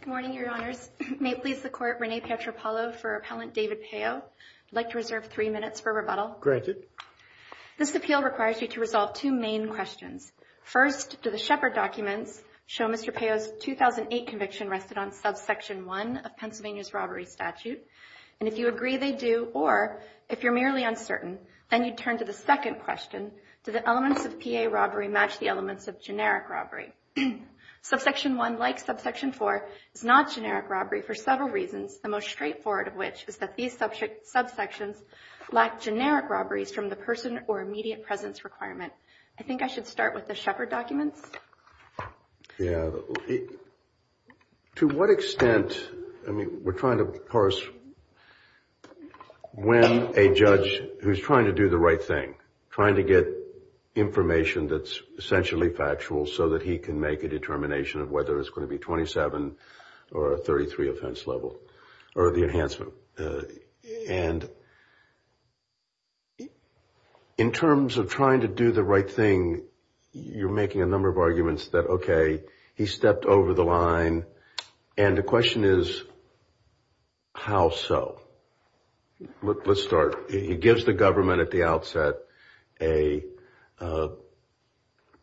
Good morning, Your Honors. May it please the Court, Rene Pietropalo for Appellant David Payo. I'd like to reserve three minutes for rebuttal. This appeal requires you to resolve two main questions. First, do the Shepard documents show Mr. Payo's 2008 conviction rested on subsection 1 of Pennsylvania's robbery statute? And if you agree they do, or if you're merely uncertain, then you turn to the second question, do the elements of P.A. robbery match the elements of generic robbery? Subsection 1, like subsection 4, is not generic robbery for several reasons, the most straightforward of which is that these subsections lack generic robberies from the person or immediate presence requirement. I think I should start with the Shepard documents. Yeah. To what extent, I mean, we're trying to parse when a judge who's trying to do the right thing, trying to get information that's essentially factual so that he can make a determination of whether it's going to be 27 or a 33 offense level, or the enhancement. And in terms of trying to do the right thing, you're making a number of arguments that okay, he stepped over the line, and the question is, how so? Let's start. He gives the government at the outset, he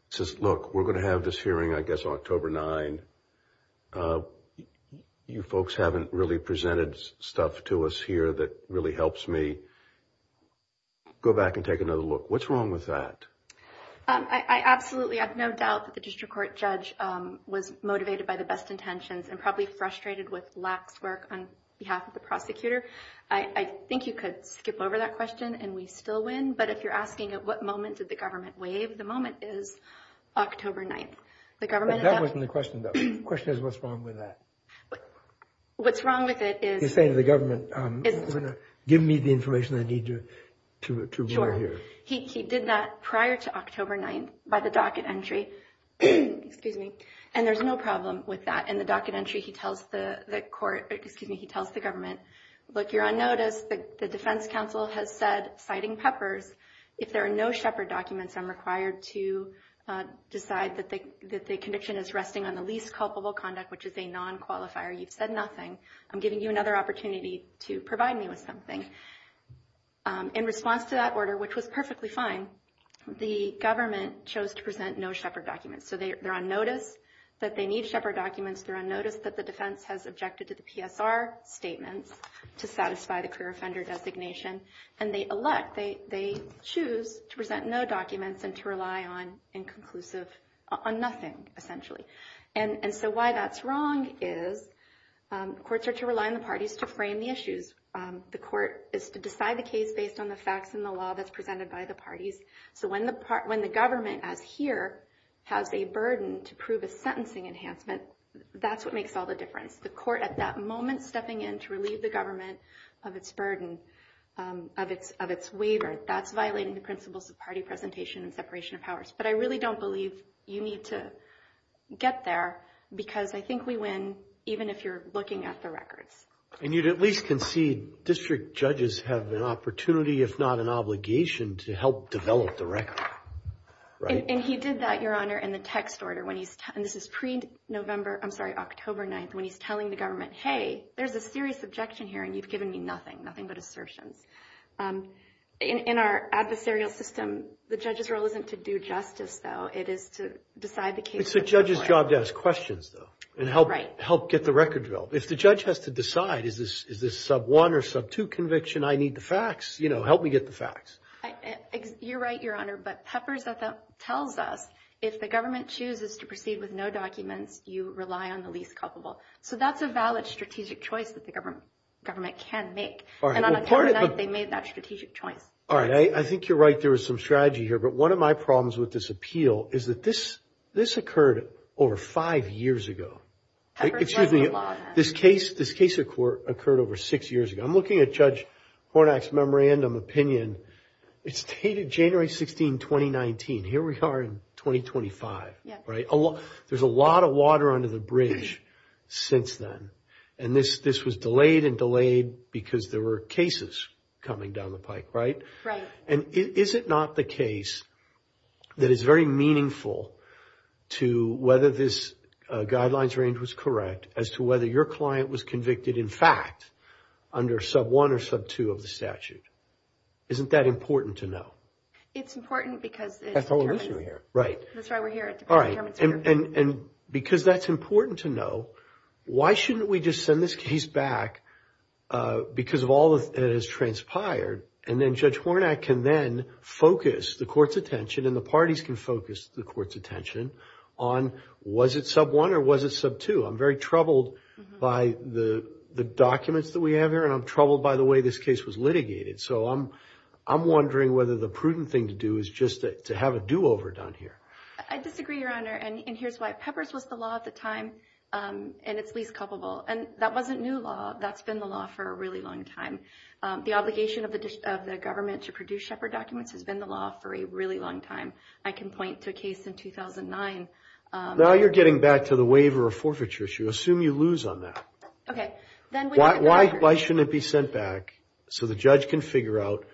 says, look, we're going to have this hearing, I guess, October 9. You folks haven't really presented stuff to us here that really helps me. Go back and take another look. What's wrong with that? I absolutely have no doubt that the district court judge was motivated by the best intentions and probably frustrated with lax work on behalf of the but if you're asking at what moment did the government waive, the moment is October 9. But that wasn't the question, though. The question is, what's wrong with that? What's wrong with it is- You're saying to the government, give me the information I need to- Sure. He did that prior to October 9 by the docket entry, and there's no problem with that. In the docket entry, he tells the government, look, you're on notice, the defense counsel has said, citing Peppers, if there are no Shepard documents, I'm required to decide that the conviction is resting on the least culpable conduct, which is a non-qualifier. You've said nothing. I'm giving you another opportunity to provide me with something. In response to that order, which was perfectly fine, the government chose to present no Shepard documents. They're on notice that they need Shepard documents. They're on notice that the defense has objected to the PSR statements to satisfy the career offender designation. And they elect, they choose to present no documents and to rely on nothing, essentially. And so why that's wrong is courts are to rely on the parties to frame the issues. The court is to decide the case based on the facts and the law that's presented by the parties. So when the government, as here, has a burden to prove a sentencing enhancement, that's what makes all the difference. The court at that moment stepping in to relieve the government of its burden, of its waiver, that's violating the principles of party presentation and separation of powers. But I really don't believe you need to get there because I think we win even if you're looking at the records. And you'd at least concede district judges have an opportunity, if not an obligation, to help develop the record. And he did that, Your Honor, in the text order when he's, and this is pre-November, I'm sorry, October 9th, when he's telling the government, hey, there's a serious objection here and you've given me nothing, nothing but assertions. In our adversarial system, the judge's role isn't to do justice, though. It is to decide the case. It's the judge's job to ask questions, though, and help get the record developed. If the judge has to decide, is this sub-1 or sub-2 conviction? I need the facts. You know, help me get the facts. You're right, Your Honor, but Peppers tells us if the government chooses to proceed with no documents, you rely on the least culpable. So that's a valid strategic choice that the government can make. And on October 9th, they made that strategic choice. All right. I think you're right. There was some strategy here. But one of my problems with this appeal is that this occurred over five years ago. Excuse me. This case occurred over six years ago. I'm looking at Judge Hornak's memorandum opinion. It's dated January 16, 2019. Here we are in 2025. There's a lot of water under the bridge since then. And this was delayed and delayed because there were cases coming down the pike, right? Right. And is it not the case that is very meaningful to whether this guidelines range was correct, as to whether your client was convicted, in fact, under sub-1 or sub-2 of the statute? Isn't that important to know? It's important because... That's the whole reason we're here. Right. That's why we're here. All right. And because that's important to know, why shouldn't we just send this case back because of all that has transpired? And then Judge Hornak can then focus the court's attention and the parties can focus the court's attention on, was it sub-1 or was it sub-2? I'm very troubled by the documents that we have here and I'm troubled by the way this case was litigated. So I'm wondering whether the prudent thing to do is just to have a do-over done here. I disagree, Your Honor. And here's why. Peppers was the law at the time and it's least culpable. And that wasn't new law. That's been the law for a really long time. The obligation of the government to produce Shepherd documents has been the law for a really long time. I can point to a case in 2009. Now you're getting back to the waiver of forfeiture issue. Assume you lose on that. Okay. Then why shouldn't it be sent back so the judge can figure out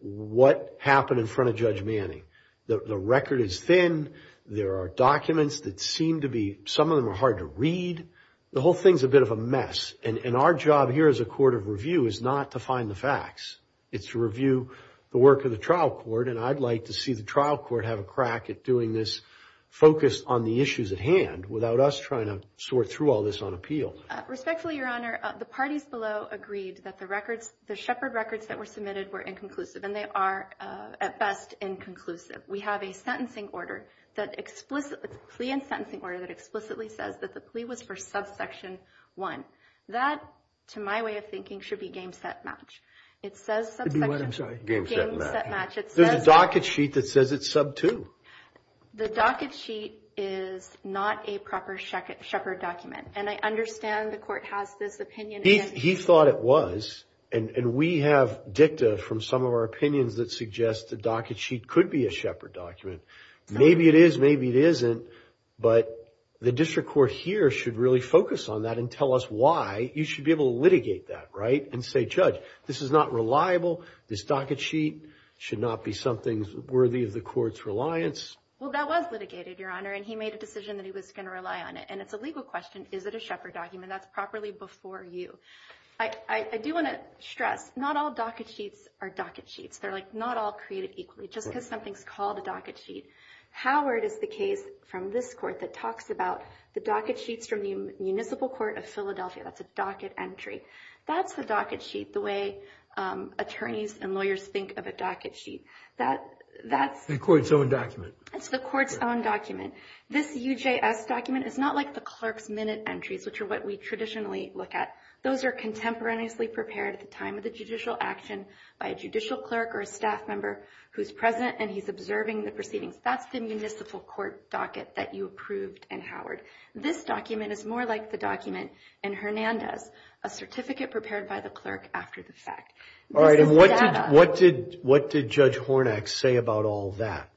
what happened in front of Judge Manning? The record is thin. There are documents that seem to be... Some of them are hard to read. The whole thing's a bit of a mess. And our job here as a court of review is not to the facts. It's to review the work of the trial court. And I'd like to see the trial court have a crack at doing this focused on the issues at hand without us trying to sort through all this on appeal. Respectfully, Your Honor, the parties below agreed that the records, the Shepherd records that were submitted were inconclusive and they are at best inconclusive. We have a sentencing order that explicitly... It's a plea and sentencing order that explicitly says that the plea was for subsection one. That, to my way of thinking, should be game, set, match. It says subsection one. Game, set, match. There's a docket sheet that says it's sub two. The docket sheet is not a proper Shepherd document. And I understand the court has this opinion. He thought it was. And we have dicta from some of our opinions that suggest the docket sheet could be a Shepherd document. Maybe it is. Maybe it isn't. But the district court here should really focus on that and tell us why you should be able to litigate that, right? And say, Judge, this is not reliable. This docket sheet should not be something worthy of the court's reliance. Well, that was litigated, Your Honor. And he made a decision that he was going to rely on it. And it's a legal question. Is it a Shepherd document that's properly before you? I do want to stress, not all docket sheets are docket sheets. They're not all created equally, just because something's called a docket sheet. Howard is the case from this court that talks about the docket sheets from the Municipal Court of Philadelphia. That's a docket entry. That's the docket sheet, the way attorneys and lawyers think of a docket sheet. That's the court's own document. It's the court's own document. This UJS document is not like the clerk's minute entries, which are what we traditionally look at. Those are contemporaneously prepared at the time of judicial action by a judicial clerk or a staff member who's present and he's observing the proceedings. That's the municipal court docket that you approved in Howard. This document is more like the document in Hernandez, a certificate prepared by the clerk after the fact. All right. And what did Judge Hornak say about all that?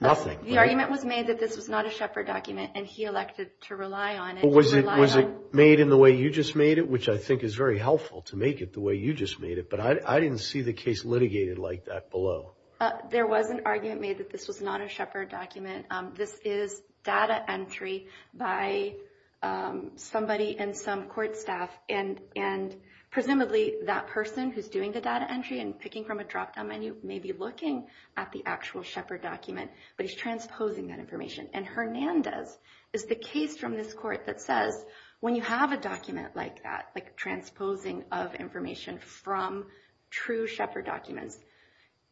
Nothing. The argument was made that this was not a Shepherd document, and he elected to rely on it. Was it made in the way you just made it, which I think is very helpful to make it the way you made it, but I didn't see the case litigated like that below. There was an argument made that this was not a Shepherd document. This is data entry by somebody and some court staff, and presumably that person who's doing the data entry and picking from a drop-down menu may be looking at the actual Shepherd document, but he's transposing that information. And Hernandez is the case from this court that says when you have a document like that, like transposing of information from true Shepherd documents,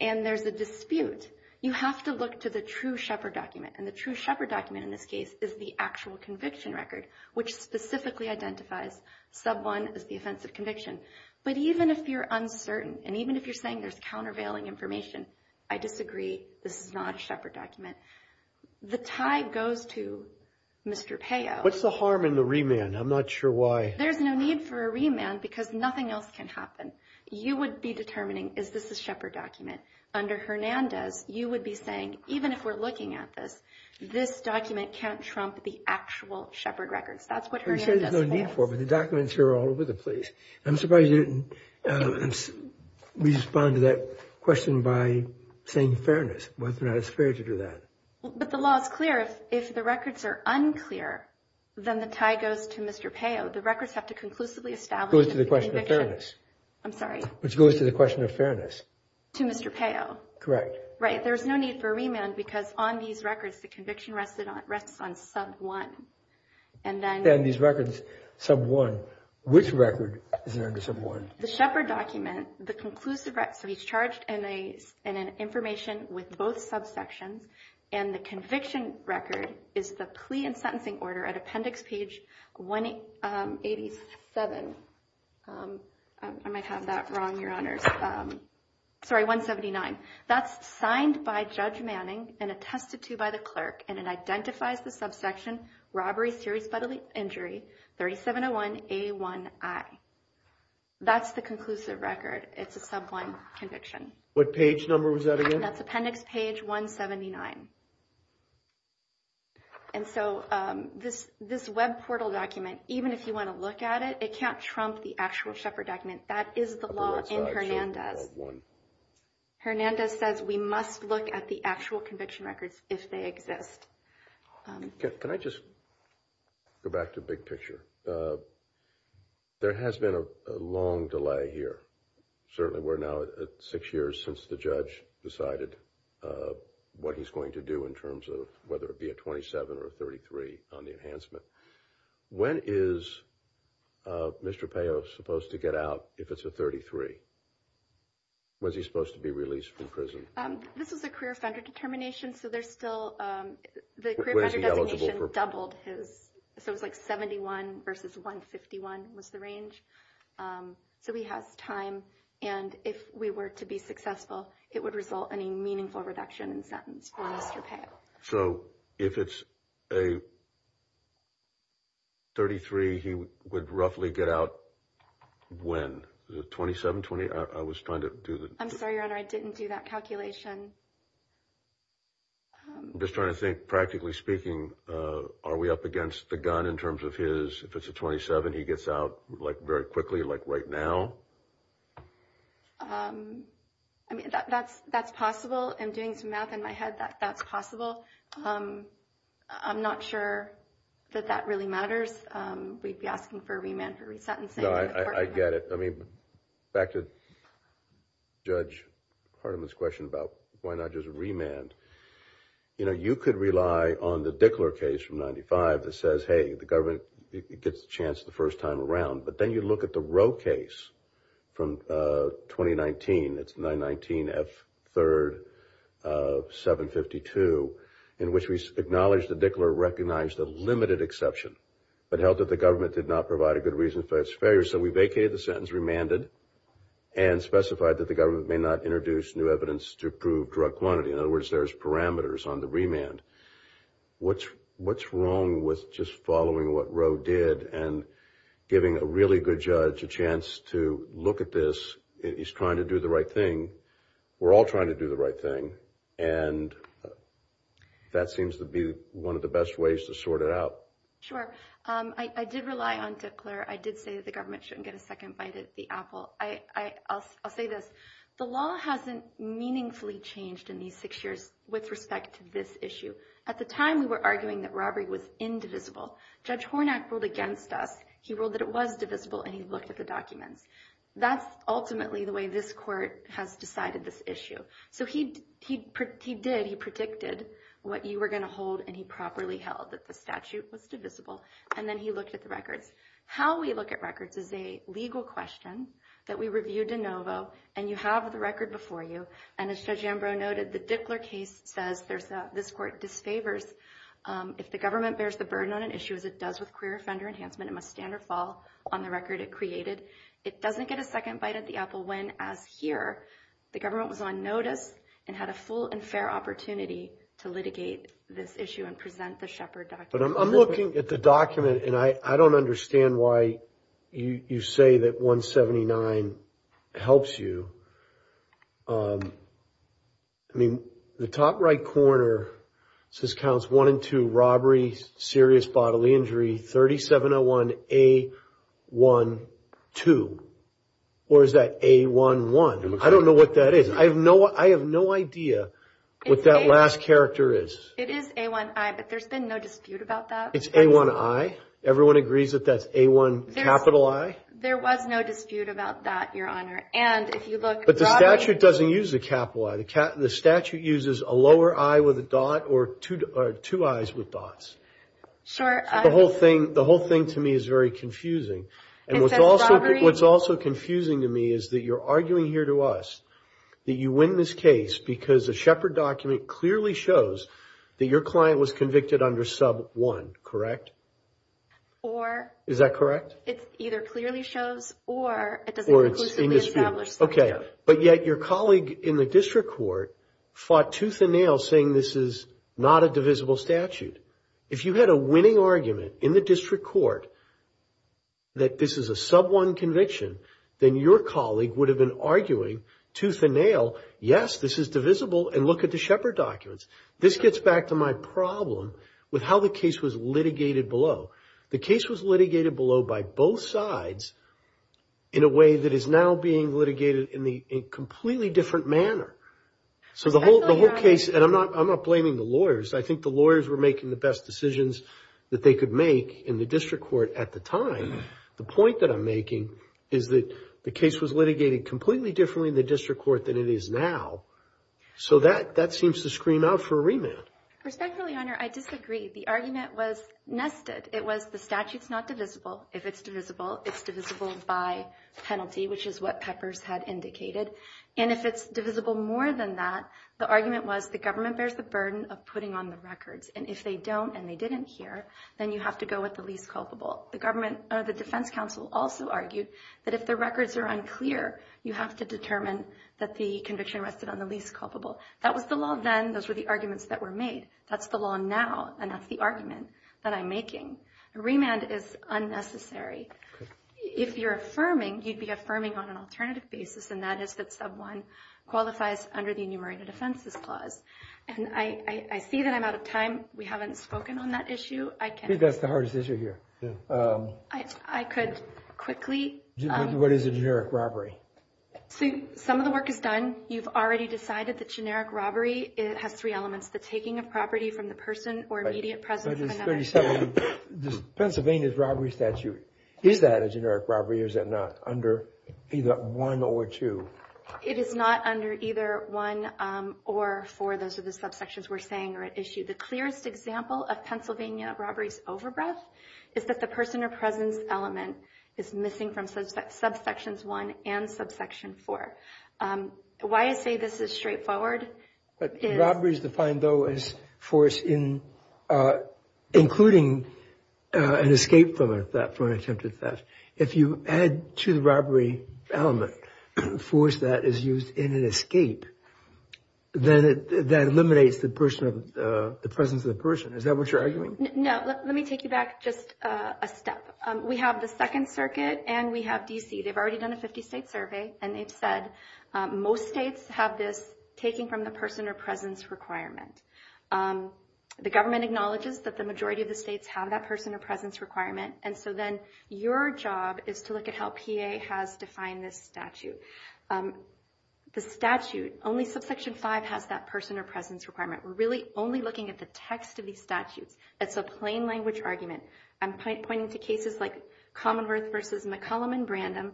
and there's a dispute, you have to look to the true Shepherd document. And the true Shepherd document in this case is the actual conviction record, which specifically identifies sub one as the offense of conviction. But even if you're uncertain and even if you're saying there's countervailing information, I disagree. This is not a Shepherd document. The tie goes to Mr. Payo. What's the harm in the remand? I'm not sure why. There's no need for a remand because nothing else can happen. You would be determining, is this a Shepherd document? Under Hernandez, you would be saying, even if we're looking at this, this document can't trump the actual Shepherd records. That's what Hernandez is for. But the documents are all over the place. I'm surprised you didn't respond to that question by saying fairness, whether or not it's fair to do that. But the law is clear. If the records are unclear, then the tie goes to Mr. Payo. The records have to conclusively establish- Goes to the question of fairness. I'm sorry. Which goes to the question of fairness. To Mr. Payo. Correct. Right. There's no need for a remand because on these records, the conviction rests on sub one. And then- And these records, sub one, which record is under sub one? The Shepherd document, the conclusive record, so he's charged in an information with both subsections. And the conviction record is the plea and sentencing order at appendix page 187. I might have that wrong, your honors. Sorry, 179. That's signed by Judge Manning and attested to by the clerk. And it identifies the subsection, robbery, serious bodily injury, 3701A1I. That's the conclusive record. It's a sub one conviction. What page number was that again? That's appendix page 179. And so this web portal document, even if you want to look at it, it can't trump the actual Shepherd document. That is the law in Hernandez. Hernandez says we must look at the actual conviction records if they exist. Can I just go back to big picture? There has been a long delay here. Certainly, we're now at six years since the judge decided what he's going to do in terms of whether it be a 27 or a 33 on the enhancement. When is Mr. Peo supposed to get out if it's a 33? Was he supposed to be released from prison? This was a career offender determination, so there's still- The career offender designation doubled his, so it was like 71 versus 151 was the range. So he has time, and if we were to be successful, it would result in a meaningful reduction in sentence for Mr. Peo. So if it's a 33, he would roughly get out when? Is it 27, 28? I was trying to do the- I'm sorry, Your Honor, I didn't do that calculation. Just trying to think, practically speaking, are we up against the gun in terms of his, if it's a 27, he gets out very quickly, like right now? I mean, that's possible. I'm doing some math in my head that that's possible. I'm not sure that that really matters. We'd be asking for a remand for resentencing. No, I get it. I mean, back to Judge Hardiman's question about why not just remand. You know, you could rely on the Dickler case from 95 that says, hey, the government gets a chance the first time around, but then you look at the Roe case from 2019, it's 919 F3rd 752, in which we acknowledge that Dickler recognized a limited exception, but held that the government did not provide a good reason for its failure, so we vacated the sentence, remanded, and specified that the government may not introduce new evidence to prove drug quantity. In other words, there's parameters on the remand. What's wrong with just following what Roe did and giving a really good judge a chance to look at this? He's trying to do the right thing. We're all trying to do the right thing, and that seems to be one of the best ways to sort it out. Sure. I did rely on Dickler. I did say that the government shouldn't get a second bite at the apple. I'll say this. The law hasn't meaningfully changed in these six years with respect to this issue. At the time, we were arguing that robbery was indivisible. Judge Hornak ruled against us. He ruled that it was divisible, and he looked at the documents. That's ultimately the way this court has decided this issue. So he did. He predicted what you were going to hold, and he properly held that the statute was divisible, and then he looked at the records. How we look at records is a legal question that we review de novo, and you have the record before you. And as Judge Ambrose noted, the Dickler case says this court disfavors if the government bears the burden on an issue as it does with queer offender enhancement, it must stand or fall on the record it created. It doesn't get a second bite at the apple when, as here, the government was on notice and had a full and fair opportunity to litigate this issue and present the Shepard document. But I'm looking at the document, and I don't understand why you say that 179 helps you. I mean, the top right corner says counts one and two, robbery, serious bodily injury, 3701A12. Or is that A11? I don't know what that is. I have no idea what that last character is. It is A1I, but there's been no dispute about that. It's A1I? Everyone agrees that that's A1 capital I? There was no dispute about that, Your Honor. But the statute doesn't use a capital I. The statute uses a lower I with a dot or two I's with dots. The whole thing to me is very confusing. And what's also confusing to me is that you're arguing here to us that you win this case because the Shepard document clearly shows that your client was convicted under sub one, correct? Or... Is that correct? It either clearly shows or it doesn't conclusively establish that. Okay. But yet your colleague in the district court fought tooth and nail saying this is not a divisible statute. If you had a winning argument in the district court that this is a sub one conviction, then your colleague would have been arguing tooth and nail, yes, this is divisible, and look at the Shepard documents. This gets back to my problem with how the case was litigated below. The case was litigated below by both sides in a way that is now being litigated in a completely different manner. So the whole case, and I'm not blaming the lawyers. I think the lawyers were making the best decisions that they could make in the district court at the time. The point that I'm that it is now. So that seems to scream out for a remand. Respectfully, Your Honor, I disagree. The argument was nested. It was the statute's not divisible. If it's divisible, it's divisible by penalty, which is what Peppers had indicated. And if it's divisible more than that, the argument was the government bears the burden of putting on the records. And if they don't and they didn't hear, then you have to go with the least culpable. The defense counsel also argued that if the records are unclear, you have to determine that the conviction rested on the least culpable. That was the law then. Those were the arguments that were made. That's the law now. And that's the argument that I'm making. Remand is unnecessary. If you're affirming, you'd be affirming on an alternative basis. And that is that sub one qualifies under the enumerated offenses clause. And I see that I'm out of time. We haven't spoken on that issue. I think that's the hardest issue here. I could quickly. What is a generic robbery? Some of the work is done. You've already decided that generic robbery has three elements. The taking of property from the person or immediate presence of another. Pennsylvania's robbery statute, is that a generic robbery or is that not under either one or two? It is not under either one or four. Those are the subsections we're saying are at issue. The clearest example of Pennsylvania robberies over breadth is that the person or presence element is missing from subsections one and subsection four. Why I say this is straightforward. Robbery is defined though as force in including an escape from attempted theft. If you add to the presence of the person, is that what you're arguing? No. Let me take you back just a step. We have the second circuit and we have D.C. They've already done a 50 state survey and they've said most states have this taking from the person or presence requirement. The government acknowledges that the majority of the states have that person or presence requirement. And so then your job is to look at how PA has defined this statute. The statute only subsection five has that person or presence requirement. We're really only looking at the text of these statutes. That's a plain language argument. I'm pointing to cases like Commonwealth versus McCollum and Brandom.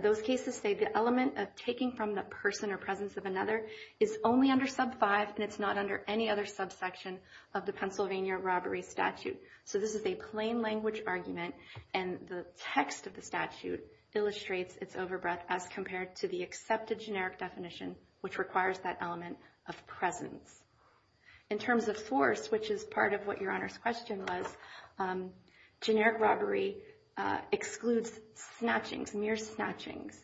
Those cases say the element of taking from the person or presence of another is only under sub five and it's not under any other subsection of the Pennsylvania robbery statute. So this is a plain language argument and the text of the statute illustrates its overbreath as compared to the accepted generic definition which requires that element of presence. In terms of force, which is part of what your honor's question was, generic robbery excludes snatchings, mere snatchings.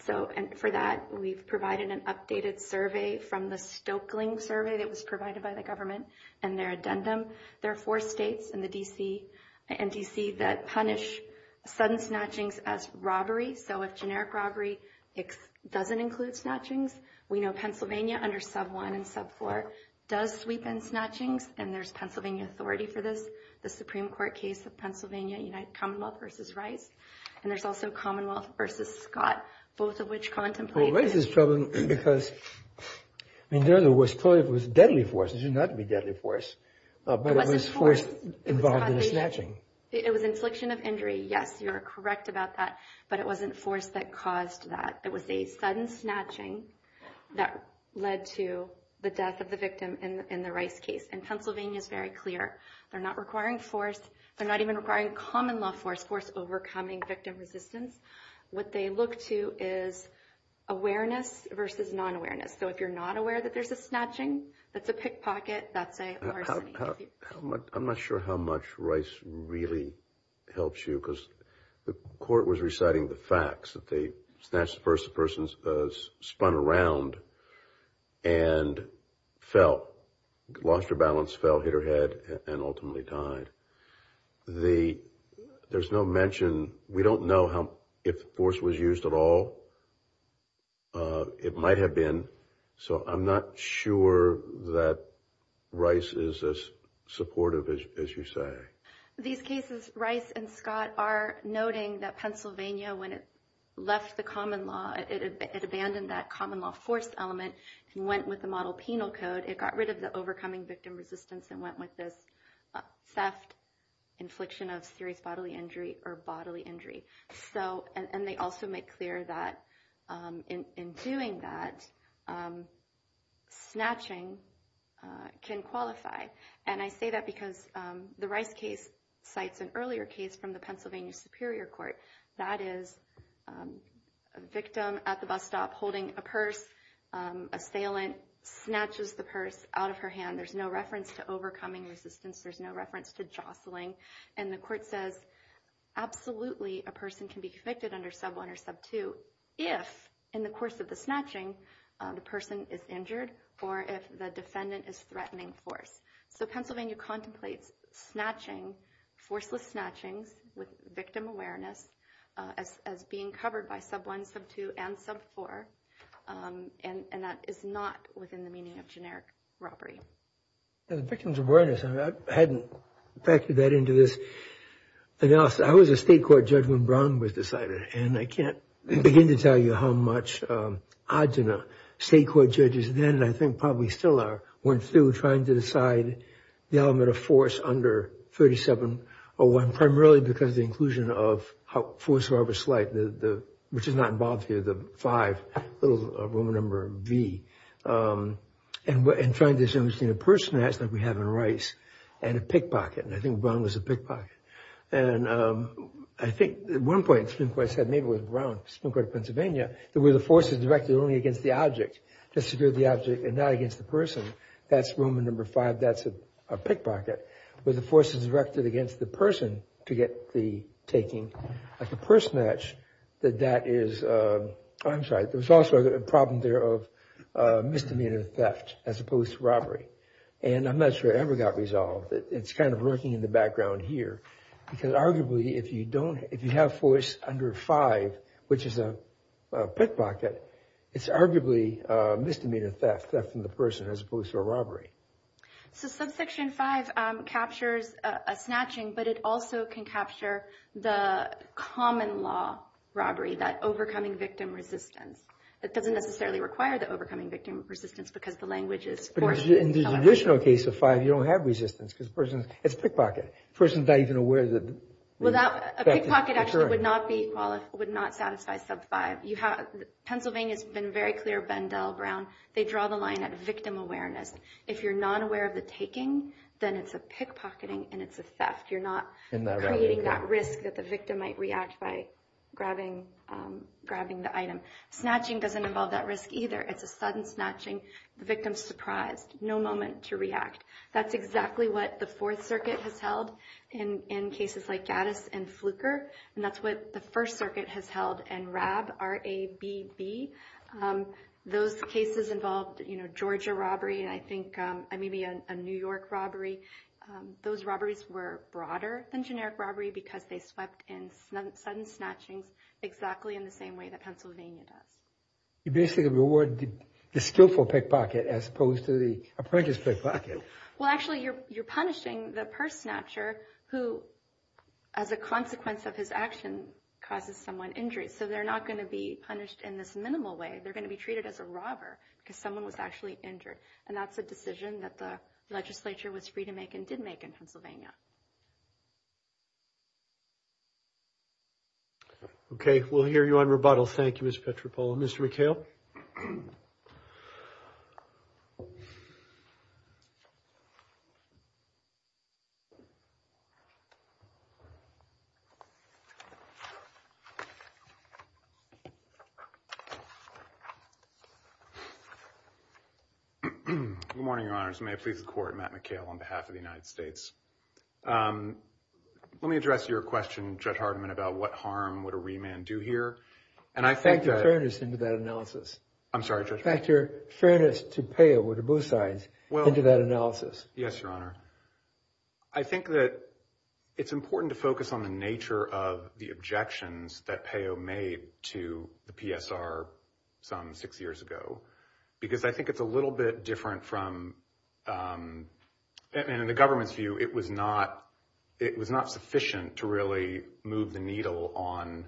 So for that we've provided an updated survey from the Stokeling survey that was provided by the government and their addendum. There are four states in the D.C. and D.C. that punish sudden snatchings as robbery. So if generic robbery doesn't include snatchings, we know Pennsylvania under sub one and sub four does sweep in snatchings and there's Pennsylvania authority for this. The Supreme Court case of Pennsylvania, Commonwealth versus Rice. And there's also Commonwealth versus Scott, both of which contemplate- Because it was deadly force. It should not be deadly force. It was infliction of injury. Yes, you're correct about that. But it wasn't force that caused that. It was a sudden snatching that led to the death of the victim in the Rice case. And Pennsylvania is very clear. They're not requiring force. They're not even requiring common law force, overcoming victim resistance. What they look to is awareness versus non-awareness. So if you're not aware that there's a snatching, that's a pickpocket, that's a larceny. I'm not sure how much Rice really helps you because the court was reciting the facts that they snatched the person, the person spun around and fell, lost her balance, fell, hit her head and ultimately died. There's no mention. We don't know if force was used at all. It might have been. So I'm not sure that Rice is as supportive as you say. These cases, Rice and Scott are noting that Pennsylvania, when it left the common law, it abandoned that common law force element and went with the model penal code. It got rid of overcoming victim resistance and went with this theft, infliction of serious bodily injury or bodily injury. And they also make clear that in doing that, snatching can qualify. And I say that because the Rice case cites an earlier case from the Pennsylvania Superior Court. That is a victim at the bus stop holding a purse. A salient snatches the purse out of her hand. There's no reference to overcoming resistance. There's no reference to jostling. And the court says absolutely a person can be convicted under sub one or sub two if in the course of the snatching, the person is injured or if the defendant is threatening force. So Pennsylvania contemplates snatching, forceless snatchings, with victim awareness as being covered by sub one, sub two, and sub four. And that is not within the meaning of generic robbery. The victim's awareness, I hadn't factored that into this analysis. I was a state court judge when Brown was decided. And I can't begin to tell you how much Agena state court judges then, I think probably still are, went through trying to decide the element of force under 37-01, primarily because of the inclusion of force of arbitrary slight, which is not involved here, the five, little Roman number V. And trying to understand a purse snatch like we have in Rice and a pickpocket. And I think Brown was a pickpocket. And I think at one point, Supreme Court said maybe it was Brown, Supreme Court of Pennsylvania, that the force is directed only against the object, to secure the object and not against the person. That's Roman number V, that's a pickpocket. But the force is directed against the person to get the taking. Like a purse snatch, that is, I'm sorry, there's also a problem there of misdemeanor theft as opposed to robbery. And I'm not sure it ever got resolved. It's kind of lurking in the background here. Because arguably, if you don't, if you have force under five, which is a pickpocket, it's arguably misdemeanor theft, theft from the person as opposed to a robbery. So subsection five captures a snatching, but it also can capture the common law robbery, that overcoming victim resistance. It doesn't necessarily require the overcoming victim resistance because the language is forced. In the traditional case of five, you don't have resistance because the person, it's a pickpocket, the person's not even aware that... Well, a pickpocket actually would not be, would not satisfy sub five. Pennsylvania's been very clear, Bendell, Brown, they draw the line at victim awareness. If you're not aware of the taking, then it's a pickpocketing and it's a theft. You're not creating that risk that the victim might react by grabbing the item. Snatching doesn't involve that risk either. It's a sudden snatching, the victim's surprised, no moment to react. That's exactly what the Fourth Circuit has held in cases like Gaddis and Fluker, and that's what the First Circuit has held in RAB, R-A-B-B. Those cases involved Georgia robbery, and I think maybe a New York robbery. Those robberies were broader than generic robbery because they swept in sudden snatchings exactly in the same way that Pennsylvania does. You basically reward the skillful pickpocket as opposed to the prankish pickpocket. Well, actually, you're punishing the purse snatcher who, as a consequence of his action, causes someone injury. So they're not going to be punished in this minimal way. They're going to be treated as a robber because someone was actually injured, and that's a decision that the legislature was free to make and did make in Pennsylvania. Okay, we'll hear you on rebuttal. Thank you, Ms. Petropoulou. Mr. McHale. Good morning, Your Honors. May it please the Court, Matt McHale on behalf of the United States. Let me address your question, Judge Hardiman, about what harm would a remand do here, and I think that— Factor fairness into that analysis. I'm sorry, Judge Hardiman? Factor fairness to PEO or to both sides into that analysis. Yes, Your Honor. I think that it's important to focus on the nature of the objections that PEO made to the PSR some six years ago because I think it's a little bit different from—and in the government's view, it was not sufficient to really move the needle on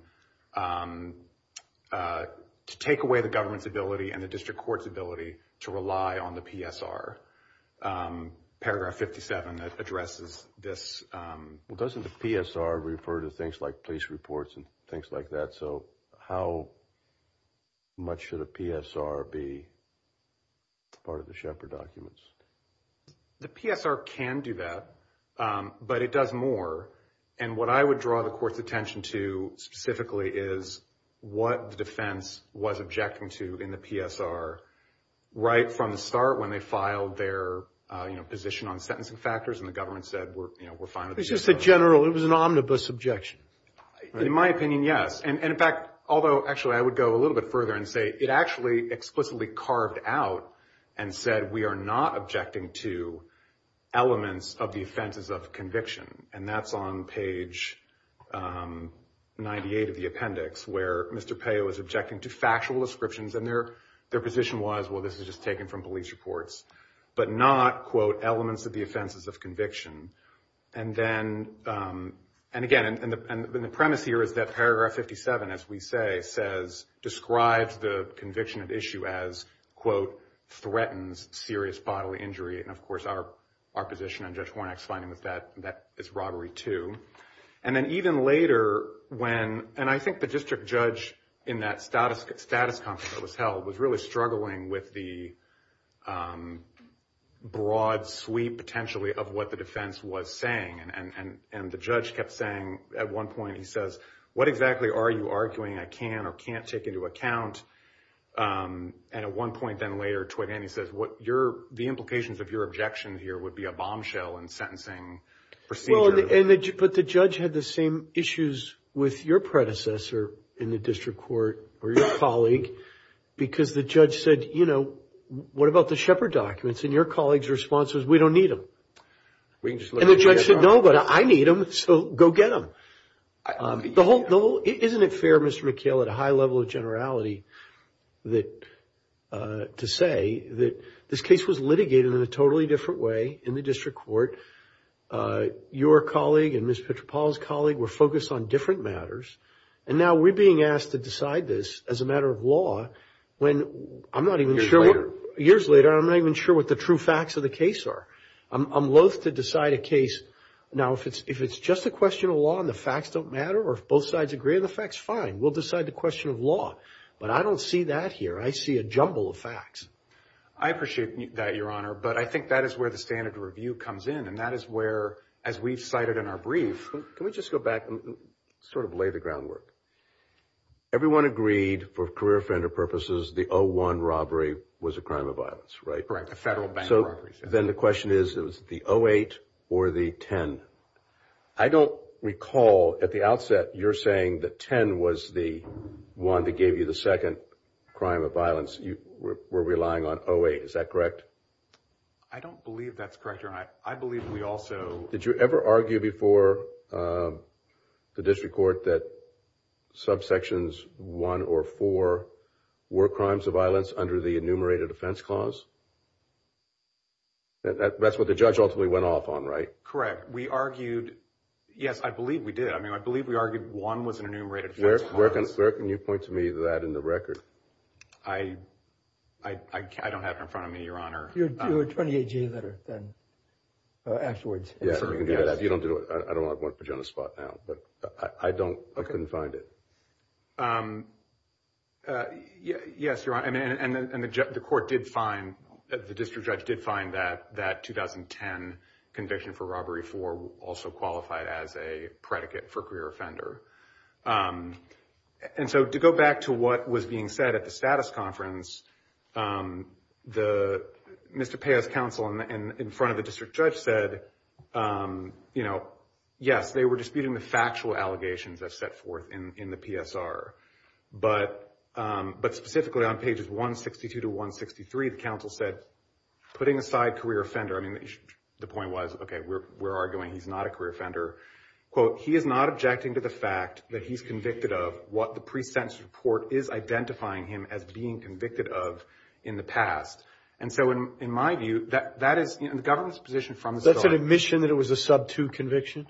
to take away the government's ability and the district court's ability to rely on the PSR. Paragraph 57 that addresses this— Well, doesn't the PSR refer to things like police reports and things like that, so how much should a PSR be part of the Shepard documents? The PSR can do that, but it does more, and what I would draw the Court's attention to specifically is what the defense was objecting to in the PSR right from the start when they filed their position on sentencing factors, and the government said, we're fine with the PSR. It was just a general—it was an omnibus objection. In my opinion, yes, and in fact, although actually I would go a little bit further and say it actually explicitly carved out and said we are not objecting to elements of the offenses of conviction, and that's on page 98 of the appendix where Mr. Peo was objecting to factual descriptions, and their position was, well, this was just taken from police reports, but not, quote, elements of the offenses of conviction, and then—and again, and the premise here is that paragraph 57, as we say, describes the conviction of issue as, quote, threatens serious bodily injury, and of course our position on Judge Hornak's finding was that that is robbery, too, and then even later when—and I think the district judge in that status conference that was held was really struggling with the broad sweep potentially of what the defense was saying, and the judge kept saying at one point, he says, what exactly are you arguing I can or can't take into account, and at one point then later, he says, what your—the implications of your objection here would be a bombshell in sentencing procedure. Well, but the judge had the same issues with your predecessor in the district court or your colleague because the judge said, you know, what about the Shepard documents? And your colleague's response was, we don't need them, and the judge said, no, but I need them, so go get them. The whole—isn't it fair, Mr. McHale, at a high level of generality that—to say that this case was litigated in a totally different way in the district court? Your colleague and Ms. Petropaulo's colleague were focused on different matters, and now we're being asked to decide this as a matter of law when I'm not even sure— Years later, and I'm not even sure what the true facts of the case are. I'm loathe to decide a case—now, if it's just a question of law and the facts don't matter, or if both sides agree on the facts, fine, we'll decide the question of law, but I don't see that here. I see a jumble of facts. I appreciate that, Your Honor, but I think that is where the standard of review comes in, and that is where, as we've cited in our brief—can we just go back and sort of lay the groundwork? Everyone agreed, for career offender purposes, the 0-1 robbery was a crime of violence, right? Correct, a federal bank robbery. Then the question is, was it the 0-8 or the 10? I don't recall, at the outset, you're saying that 10 was the one that gave you the second crime of violence. You were relying on 0-8. Is that correct? I don't believe that's correct, Your Honor. I believe we also— Did you ever argue before the district court that subsections 1 or 4 were crimes of violence under the enumerated offense clause? That's what the judge ultimately went off on, right? We argued—yes, I believe we did. I mean, I believe we argued 1 was an enumerated offense clause. Where can you point to me that in the record? I don't have it in front of me, Your Honor. Your 28-year letter, then. Afterwards. Yeah, you don't do it. I don't want to put you on the spot now, but I don't—I couldn't find it. Yes, Your Honor, and the court did find—the district judge did find that 2010 conviction for robbery 4 also qualified as a predicate for career offender. And so, to go back to what was being said at the status conference, the—Mr. Paya's counsel in front of the district judge said, you know, yes, they were disputing the factual allegations that set forth in the PSR. But specifically on pages 162 to 163, the counsel said, putting aside career offender, I mean, the point was, okay, we're arguing he's not a career offender. He is not objecting to the fact that he's convicted of what the pre-sentence report is identifying him as being convicted of in the past. And so, in my view, that is—the government's position from the start— Do you have an admission that it was a sub-2 conviction?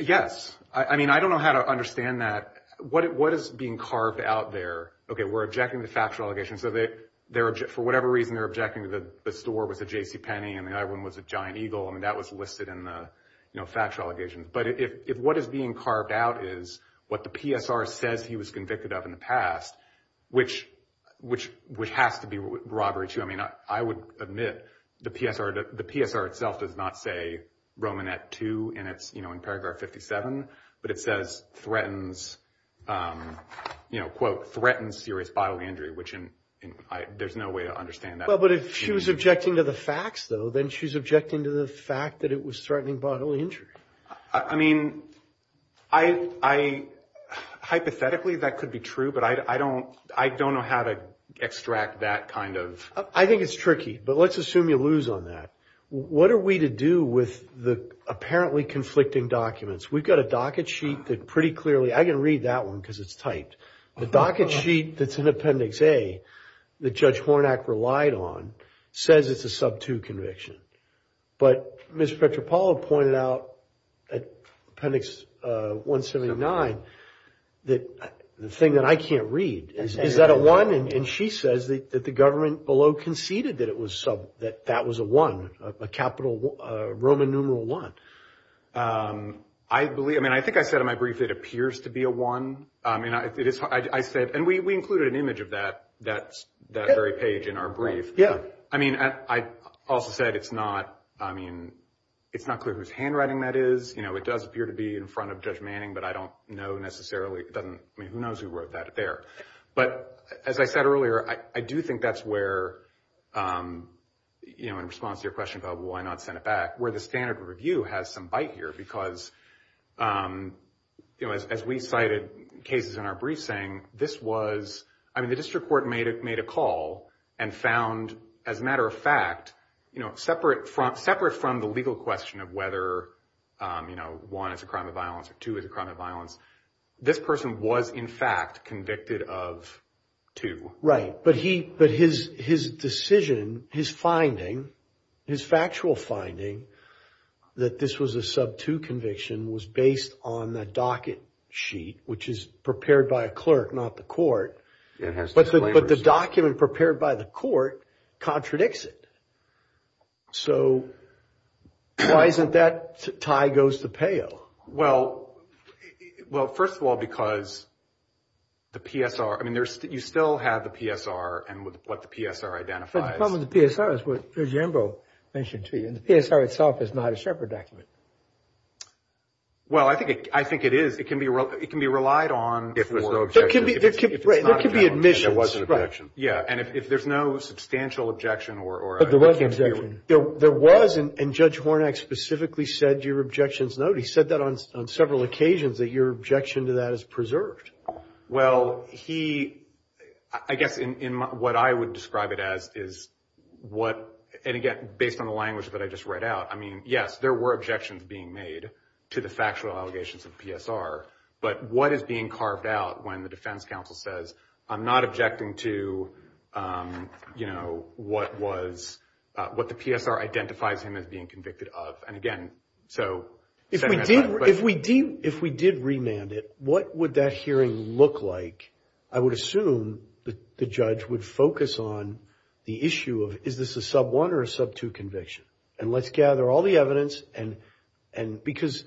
Yes. I mean, I don't know how to understand that. What is being carved out there—okay, we're objecting to factual allegations. So, for whatever reason, they're objecting that the store was a JCPenney, and the other one was a Giant Eagle. I mean, that was listed in the, you know, factual allegations. But if what is being carved out is what the PSR says he was convicted of in the past, which has to be robbery, too. I would admit, the PSR itself does not say Romanette II in paragraph 57, but it says, quote, threatens serious bodily injury, which there's no way to understand that. Well, but if she was objecting to the facts, though, then she's objecting to the fact that it was threatening bodily injury. I mean, hypothetically, that could be true, but I don't know how to extract that kind of— I think it's tricky, but let's assume you lose on that. What are we to do with the apparently conflicting documents? We've got a docket sheet that pretty clearly—I can read that one because it's typed. The docket sheet that's in Appendix A that Judge Hornack relied on says it's a sub-2 conviction, but Ms. Petropaulo pointed out at Appendix 179 that—the thing that I can't read, is that a 1? And she says that the government below conceded that it was sub—that that was a 1, a capital Roman numeral 1. I believe—I mean, I think I said in my brief it appears to be a 1. I mean, I said—and we included an image of that very page in our brief. Yeah. I mean, I also said it's not—I mean, it's not clear whose handwriting that is. It does appear to be in front of Judge Manning, but I don't know necessarily. It doesn't—I mean, who knows who wrote that there? But as I said earlier, I do think that's where, in response to your question about why not send it back, where the standard review has some bite here because, as we cited cases in our brief saying, this was—I mean, the district court made a call and found, as a matter of fact, separate from the legal question of whether 1 is a crime of violence or 2 is a crime of violence. This person was, in fact, convicted of 2. Right. But he—but his decision, his finding, his factual finding that this was a sub-2 conviction was based on the docket sheet, which is prepared by a clerk, not the court. It has— But the document prepared by the court contradicts it. So why isn't that tie goes to PEO? Well, well, first of all, because the PSR—I mean, there's—you still have the PSR and what the PSR identifies. But the problem with the PSR is what Judge Ambrose mentioned to you, and the PSR itself is not a Shepherd document. Well, I think it is. It can be—it can be relied on— If there's no objection. There can be—there can be admissions. If there was an objection. Yeah, and if there's no substantial objection or— There was—and Judge Hornak specifically said your objections noted. He said that on several occasions, that your objection to that is preserved. Well, he—I guess what I would describe it as is what—and again, based on the language that I just read out. I mean, yes, there were objections being made to the factual allegations of PSR. But what is being carved out when the defense counsel says, I'm not objecting to, you know, what was—what the PSR identifies him as being convicted of. And again, so— If we did—if we did—if we did remand it, what would that hearing look like? I would assume that the judge would focus on the issue of, is this a sub-1 or a sub-2 conviction? And let's gather all the evidence and—and because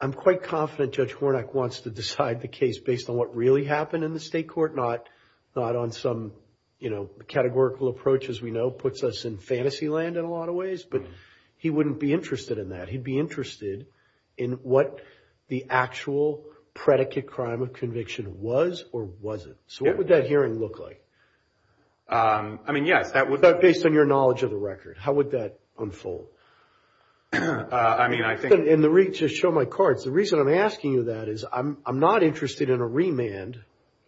I'm quite confident Judge Hornak wants to decide the case based on what really happened in the state court, not—not on some, you know, categorical approach as we know puts us in fantasy land in a lot of ways. But he wouldn't be interested in that. He'd be interested in what the actual predicate crime of conviction was or wasn't. So what would that hearing look like? I mean, yes, that would— Based on your knowledge of the record. How would that unfold? I mean, I think— In the—just show my cards. The reason I'm asking you that is I'm—I'm not interested in a remand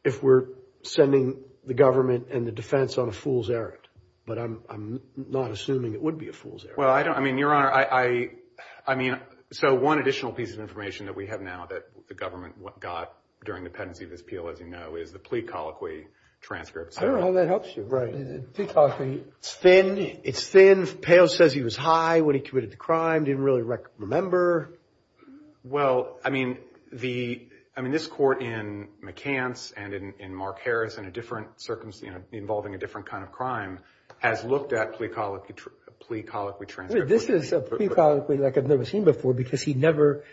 if we're sending the government and the defense on a fool's errand. But I'm—I'm not assuming it would be a fool's errand. Well, I don't—I mean, Your Honor, I—I—I mean, so one additional piece of information that we have now that the government got during the pendency of his appeal, as you know, is the plea colloquy transcript. I don't know how that helps you. Plea colloquy. It's thin. It's thin. Pail says he was high when he committed the crime. Didn't really remember. Well, I mean, the—I mean, this court in McCants and in—in Mark Harris, in a different circumstance, you know, involving a different kind of crime, has looked at plea colloquy—plea colloquy transcript. Wait. This is a plea colloquy like I've never seen before because he never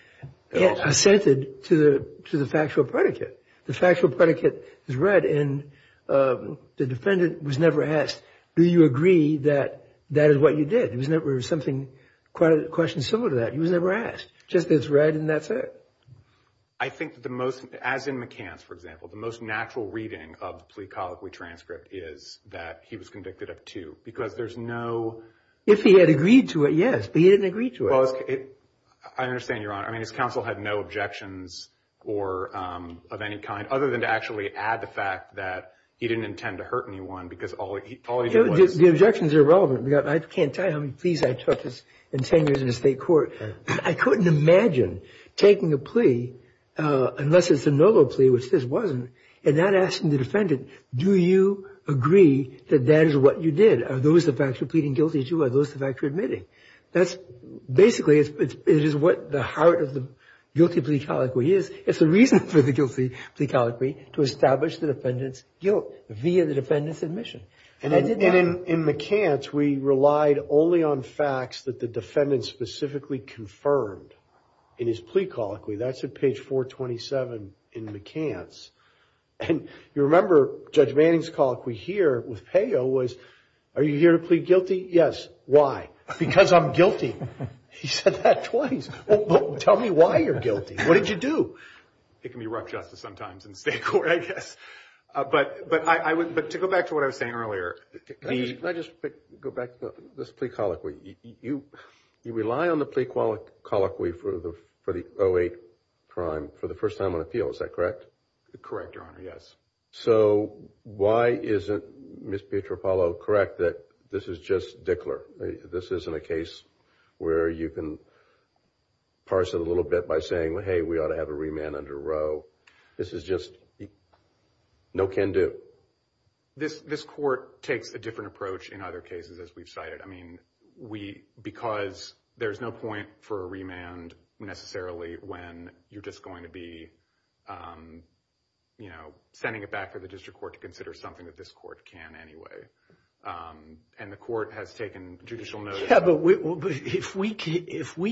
assented to the—to the factual predicate. The factual predicate is read, and the defendant was never asked, do you agree that that is what you did? It was never something—quite a question similar to that. He was never asked. Just it's read and that's it. I think the most—as in McCants, for example, the most natural reading of the plea colloquy transcript is that he was convicted of two because there's no— If he had agreed to it, yes, but he didn't agree to it. Well, it—I understand, Your Honor. I mean, his counsel had no objections or—of any kind other than to actually add the fact that he didn't intend to hurt anyone because all he did was— The objections are relevant. I can't tell you how many pleas I took in 10 years in a state court. I couldn't imagine taking a plea, unless it's a noble plea, which this wasn't, and not asking the defendant, do you agree that that is what you did? Are those the facts you're pleading guilty to? Are those the facts you're admitting? That's—basically, it is what the heart of the guilty plea colloquy is. It's the reason for the guilty plea colloquy to establish the defendant's guilt via the defendant's admission. And in McCants, we relied only on facts that the defendant specifically confirmed in his plea colloquy. That's at page 427 in McCants. And you remember Judge Manning's colloquy here with Payo was, are you here to plead guilty? Yes. Why? Because I'm guilty. He said that twice. Tell me why you're guilty. What did you do? It can be rough justice sometimes in state court, I guess. But to go back to what I was saying earlier— Can I just go back to this plea colloquy? You rely on the plea colloquy for the 08 crime for the first time on appeal, is that correct? Correct, Your Honor, yes. So why isn't Ms. Pietropalo correct that this is just Dickler? This isn't a case where you can parse it a little bit by saying, hey, we ought to have a remand under Roe. This is just no can do. This court takes a different approach in other cases, as we've cited. Because there's no point for a remand necessarily when you're just going to be sending it back to the district court to consider something that this court can anyway. And the court has taken judicial notice. Yeah, but if we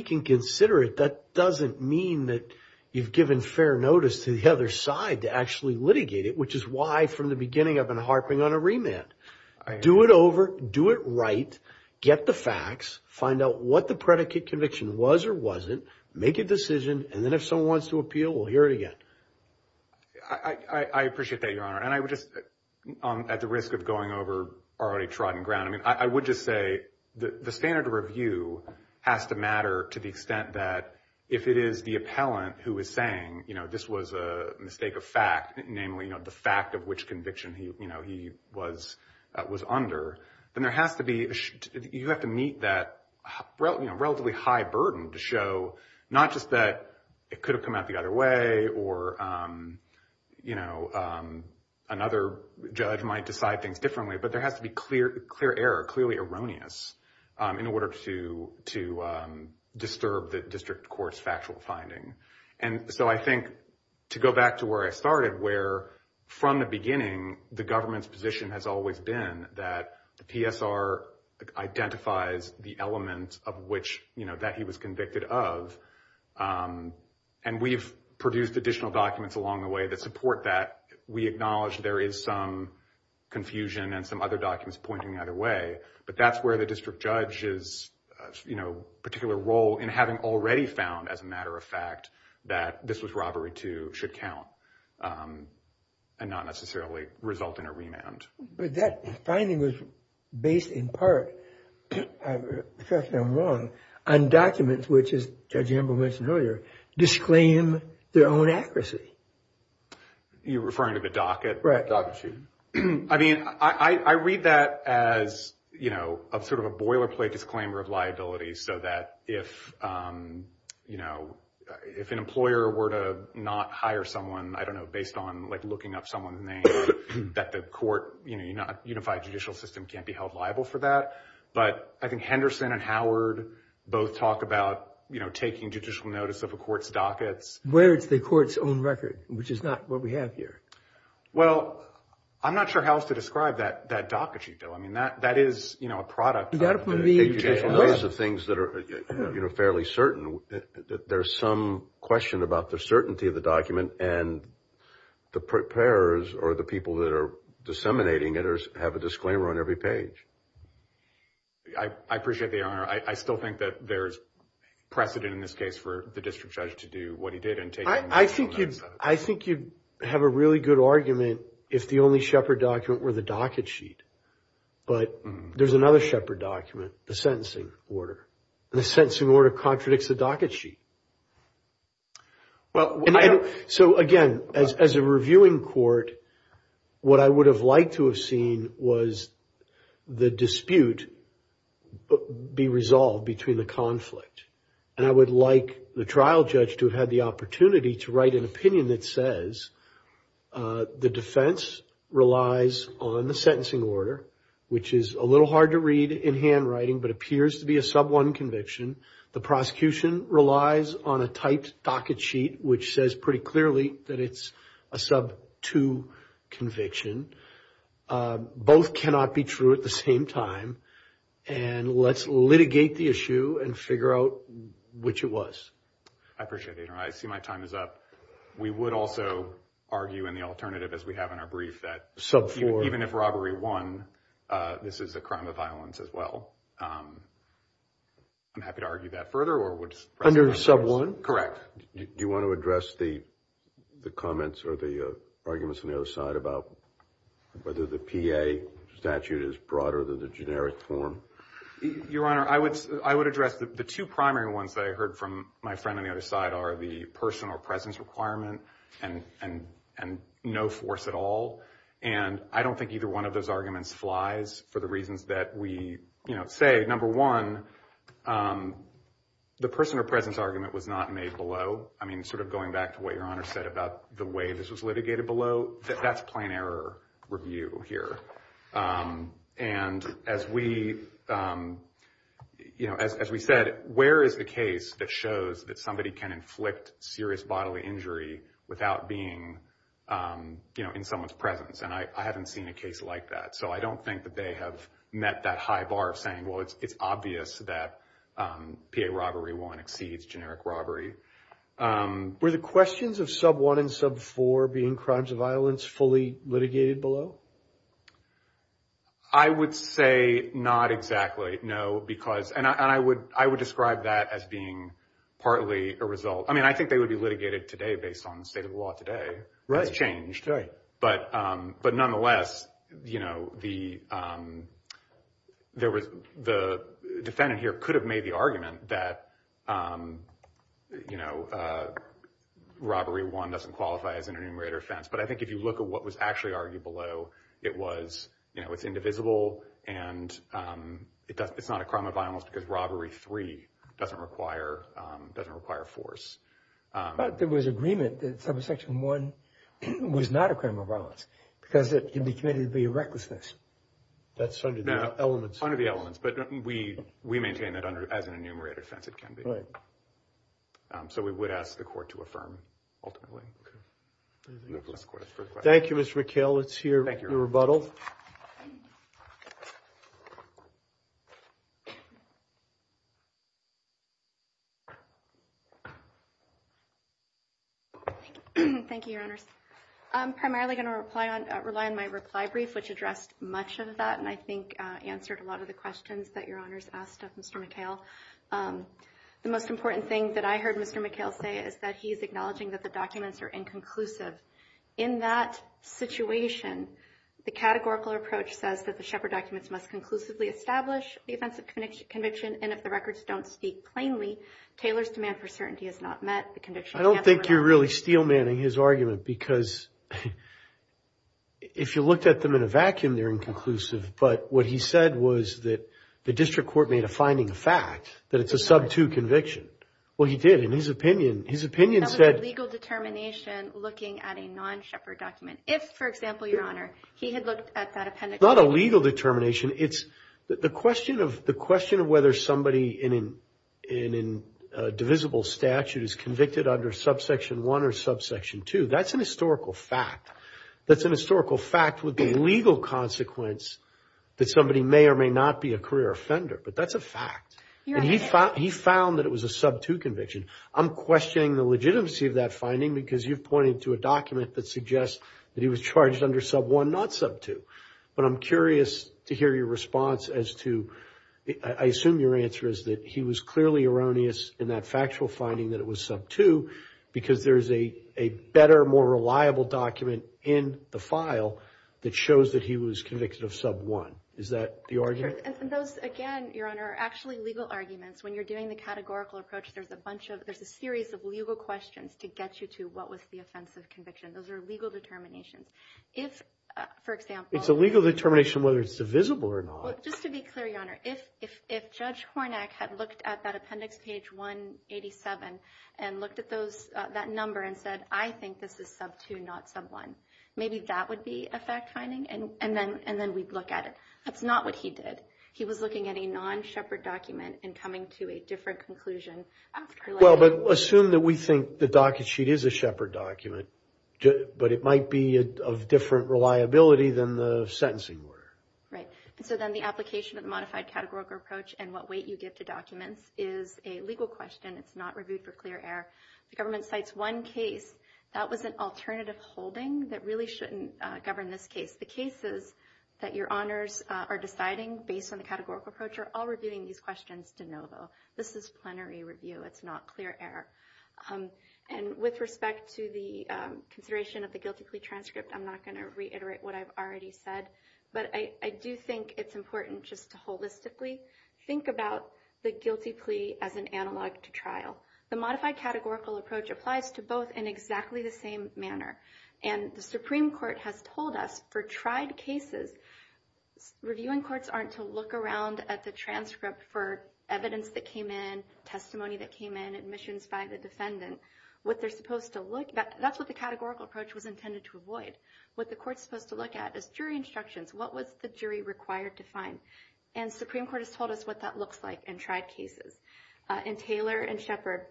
can consider it, that doesn't mean that you've given fair notice to the other side to actually litigate it, which is why from the beginning, I've been harping on a remand. Do it over. Do it right. Get the facts. Find out what the predicate conviction was or wasn't. Make a decision. And then if someone wants to appeal, we'll hear it again. I appreciate that, Your Honor. And I would just, at the risk of going over already trodden ground, I mean, I would just say the standard of review has to matter to the extent that if it is the appellant who is saying, this was a mistake of fact, namely the fact of which conviction he was under, then you have to meet that relatively high burden to show not just that it could have come out the other way or another judge might decide things differently, but there has to be clear error, clearly erroneous, in order to disturb the district court's factual finding. And so I think, to go back to where I started, where from the beginning, the government's position has always been that the PSR identifies the element of which, you know, that he was convicted of, and we've produced additional documents along the way that support that. We acknowledge there is some confusion and some other documents pointing either way, but that's where the district judge's, you know, particular role in having already found, as a matter of fact, that this was robbery, too, should count and not necessarily result in a remand. But that finding was based in part, if I'm not wrong, on documents which, as Judge Amber mentioned earlier, disclaim their own accuracy. You're referring to the docket? Right. Docket sheet. I mean, I read that as, you know, sort of a boilerplate disclaimer of liabilities, so that if, you know, if an employer were to not hire someone, I don't know, based on, like, looking up someone's name, that the court, you know, unified judicial system can't be held liable for that. But I think Henderson and Howard both talk about, you know, taking judicial notice of a court's dockets. Where it's the court's own record, which is not what we have here. Well, I'm not sure how else to describe that docket sheet, though. I mean, that is, you know, a product of the judicial notice of things that are, you know, fairly certain. There's some question about the certainty of the document. And the preparers, or the people that are disseminating it, have a disclaimer on every page. I appreciate the honor. I still think that there's precedent in this case for the district judge to do what he did and take that notice. I think you'd have a really good argument if the only Shepherd document were the docket sheet. But there's another Shepherd document, the sentencing order. The sentencing order contradicts the docket sheet. Well, so again, as a reviewing court, what I would have liked to have seen was the dispute be resolved between the conflict. And I would like the trial judge to have had the opportunity to write an opinion that says the defense relies on the sentencing order, which is a little hard to read in handwriting, but appears to be a sub-1 conviction. The prosecution relies on a typed docket sheet, which says pretty clearly that it's a sub-2 conviction. Both cannot be true at the same time. And let's litigate the issue and figure out which it was. I appreciate the honor. I see my time is up. We would also argue in the alternative, as we have in our brief, that even if robbery won, this is a crime of violence as well. I'm happy to argue that further. Or would... Under sub-1? Correct. Do you want to address the comments or the arguments on the other side about whether the PA statute is broader than the generic form? Your Honor, I would address the two primary ones that I heard from my friend on the other side are the personal presence requirement and no force at all. And I don't think either one of those arguments flies for the reasons that we say. Number one, the personal presence argument was not made below. I mean, sort of going back to what Your Honor said about the way this was litigated below, that's plain error review here. And as we said, where is the case that shows that somebody can inflict serious bodily injury without being in someone's presence? And I haven't seen a case like that. So I don't think that they have met that high bar of saying, well, it's obvious that PA robbery won exceeds generic robbery. Were the questions of sub-1 and sub-4 being crimes of violence fully litigated below? I would say not exactly. No, because... And I would describe that as being partly a result. I think they would be litigated today based on the state of the law today. Right. That's changed. But nonetheless, the defendant here could have made the argument that robbery one doesn't qualify as an enumerator offense. But I think if you look at what was actually argued below, it's indivisible. And it's not a crime of violence because robbery three doesn't require force. But there was agreement that subsection one was not a crime of violence because it can be committed via recklessness. That's under the elements. Under the elements. But we maintain that as an enumerator offense, it can be. So we would ask the court to affirm ultimately. Thank you, Mr. McHale. It's your rebuttal. Thank you, Your Honors. I'm primarily going to rely on my reply brief, which addressed much of that, and I think answered a lot of the questions that Your Honors asked of Mr. McHale. The most important thing that I heard Mr. McHale say is that he's acknowledging that the documents are inconclusive. In that situation, the categorical approach says that the Shepard documents must conclusively establish the offense of conviction, and if the records don't speak plainly, Taylor's demand for certainty has not met the condition. I don't think you're really steel manning his argument because if you looked at them in a vacuum, they're inconclusive. But what he said was that the district court made a finding of fact that it's a sub two conviction. Well, he did in his opinion. His opinion said... That was a legal determination looking at a non-Shepard document. If, for example, Your Honor, he had looked at that appendix... Not a legal determination. The question of whether somebody in a divisible statute is convicted under subsection one or subsection two, that's a historical fact. That's a historical fact with a legal consequence that somebody may or may not be a career offender, but that's a fact. He found that it was a sub two conviction. I'm questioning the legitimacy of that finding because you've pointed to a document that he was charged under sub one, not sub two. But I'm curious to hear your response as to... I assume your answer is that he was clearly erroneous in that factual finding that it was sub two because there's a better, more reliable document in the file that shows that he was convicted of sub one. Is that the argument? And those, again, Your Honor, are actually legal arguments. When you're doing the categorical approach, there's a bunch of... There's a series of legal questions to get you to what was the offensive conviction. Those are legal determinations. If, for example... It's a legal determination whether it's divisible or not. Well, just to be clear, Your Honor, if Judge Hornak had looked at that appendix page 187 and looked at that number and said, I think this is sub two, not sub one, maybe that would be a fact finding and then we'd look at it. That's not what he did. He was looking at a non-Shepard document and coming to a different conclusion after... But assume that we think the docket sheet is a Shepard document, but it might be of different reliability than the sentencing order. Right. And so then the application of the modified categorical approach and what weight you give to documents is a legal question. It's not reviewed for clear air. The government cites one case that was an alternative holding that really shouldn't govern this case. The cases that Your Honors are deciding based on the categorical approach are all reviewing these questions de novo. This is plenary review. It's not clear air. And with respect to the consideration of the guilty plea transcript, I'm not going to reiterate what I've already said, but I do think it's important just to holistically think about the guilty plea as an analog to trial. The modified categorical approach applies to both in exactly the same manner. And the Supreme Court has told us for tried cases, reviewing courts aren't to look around at the transcript for evidence that came in, testimony that came in, admissions by the defendant. That's what the categorical approach was intended to avoid. What the court's supposed to look at is jury instructions. What was the jury required to find? And Supreme Court has told us what that looks like in tried cases. In Taylor and Shepard,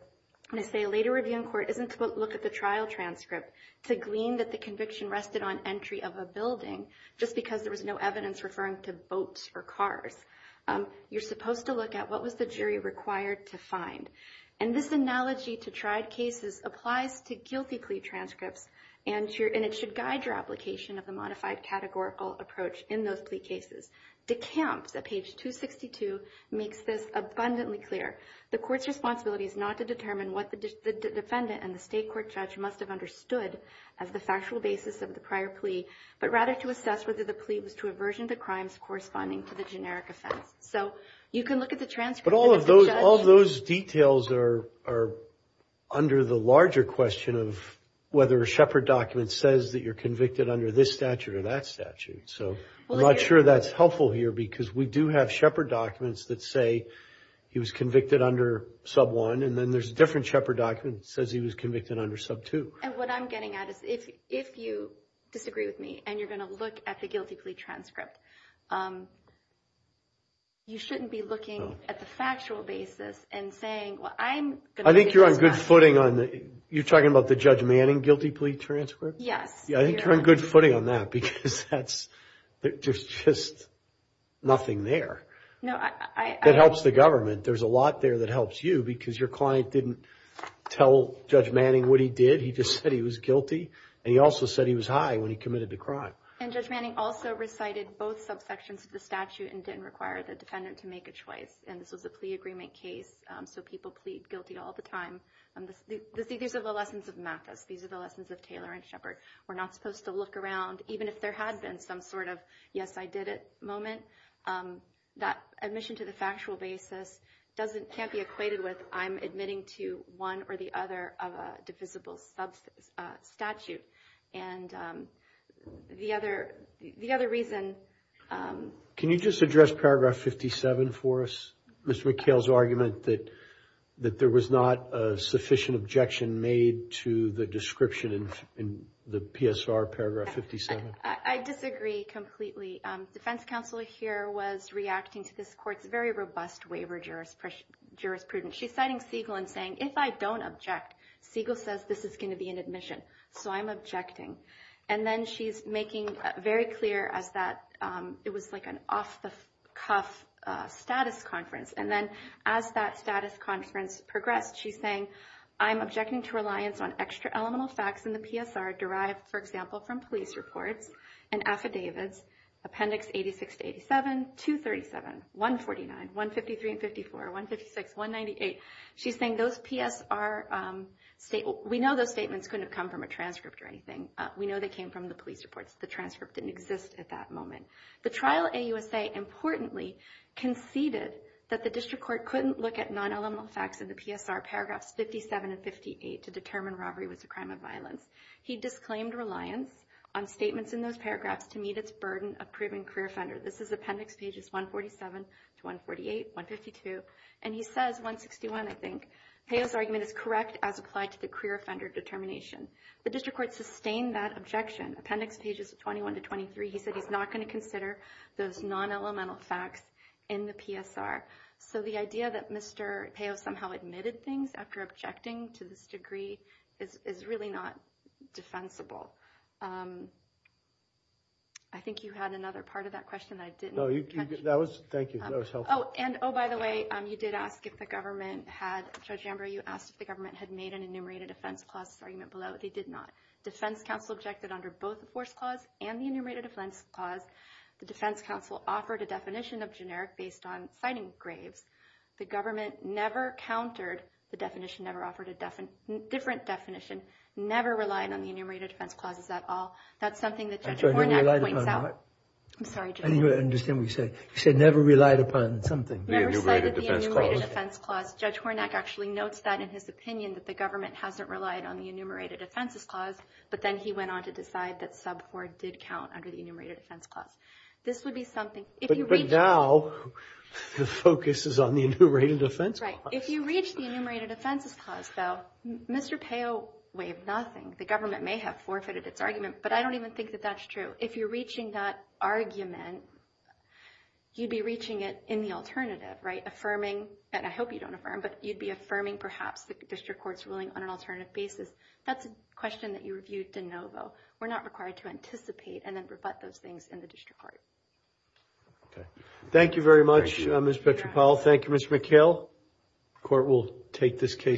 they say a later review in court isn't to look at the trial transcript to glean that the conviction rested on entry of a building just because there was no evidence referring to boats or cars. You're supposed to look at what was the jury required to find. And this analogy to tried cases applies to guilty plea transcripts, and it should guide your application of the modified categorical approach in those plea cases. DeCamps, at page 262, makes this abundantly clear. The court's responsibility is not to determine what the defendant and the state court judge must have understood as the factual basis of the prior plea, but rather to assess whether the plea was to aversion to crimes corresponding to the generic offense. So you can look at the transcript. But all of those details are under the larger question of whether a Shepard document says that you're convicted under this statute or that statute. So I'm not sure that's helpful here because we do have Shepard documents that say he was convicted under sub 1, and then there's a different Shepard document that says he was convicted under sub 2. And what I'm getting at is if you disagree with me, and you're going to look at the guilty plea transcript, you shouldn't be looking at the factual basis and saying, well, I'm going to... I think you're on good footing on the... You're talking about the Judge Manning guilty plea transcript? Yes. Yeah, I think you're on good footing on that because there's just nothing there. That helps the government. There's a lot there that helps you because your client didn't tell Judge Manning what he did. He just said he was guilty. And he also said he was high when he committed the crime. And Judge Manning also recited both subsections of the statute and didn't require the defendant to make a choice. And this was a plea agreement case. So people plead guilty all the time. These are the lessons of Mathis. These are the lessons of Taylor and Shepard. We're not supposed to look around, even if there had been some sort of yes, I did it moment. That admission to the factual basis can't be equated with I'm admitting to one or the other of a divisible statute. And the other reason... Can you just address paragraph 57 for us? Mr. McHale's argument that there was not a sufficient objection made to the description in the PSR paragraph 57. I disagree completely. Defense counsel here was reacting to this court's very robust waiver jurisprudence. She's citing Siegel and saying, if I don't object, Siegel says this is going to be an admission. So I'm objecting. And then she's making very clear as that it was like an off-the-cuff status conference. And then as that status conference progressed, she's saying, I'm objecting to reliance on extra elemental facts in the PSR derived, for example, from police reports and affidavits, appendix 86 to 87, 237, 149, 153 and 54, 156, 198. She's saying those PSR state... We know those statements couldn't have come from a transcript or anything. We know they came from the police reports. The transcript didn't exist at that moment. The trial AUSA importantly conceded that the district court couldn't look at non-elemental facts in the PSR paragraphs 57 and 58 to determine robbery was a crime of violence. He disclaimed reliance on statements in those paragraphs to meet its burden of proving career offender. This is appendix pages 147 to 148, 152. And he says, 161, I think, Peo's argument is correct as applied to the career offender determination. The district court sustained that objection. Appendix pages 21 to 23, he said he's not going to consider those non-elemental facts in the PSR. So the idea that Mr. Peo somehow admitted things after objecting to this degree is really not defensible. I think you had another part of that question that I didn't catch. No, that was... Thank you, that was helpful. Oh, and by the way, you did ask if the government had... Judge Amber, you asked if the government had made an enumerated offense clause argument below. They did not. Defense counsel objected under both the force clause and the enumerated offense clause. The defense counsel offered a definition of generic based on citing graves. The government never countered the definition, never offered a different definition, never relied on the enumerated defense clauses at all. That's something that Judge Hornak points out. I'm sorry, Judge. I didn't understand what you said. You said never relied upon something. Never cited the enumerated defense clause. Judge Hornak actually notes that in his opinion that the government hasn't relied on the enumerated offenses clause, but then he went on to decide that sub-4 did count under the enumerated offense clause. This would be something... But now, the focus is on the enumerated offense clause. If you reach the enumerated offenses clause, though, Mr. Peo waived nothing. The government may have forfeited its argument, but I don't even think that that's true. If you're reaching that argument, you'd be reaching it in the alternative, right? Affirming, and I hope you don't affirm, but you'd be affirming perhaps the district court's ruling on an alternative basis. That's a question that you reviewed de novo. We're not required to anticipate and then rebut those things in the district court. Okay. Thank you very much, Ms. Petropoulos. Thank you, Mr. McHale. Court will take this case.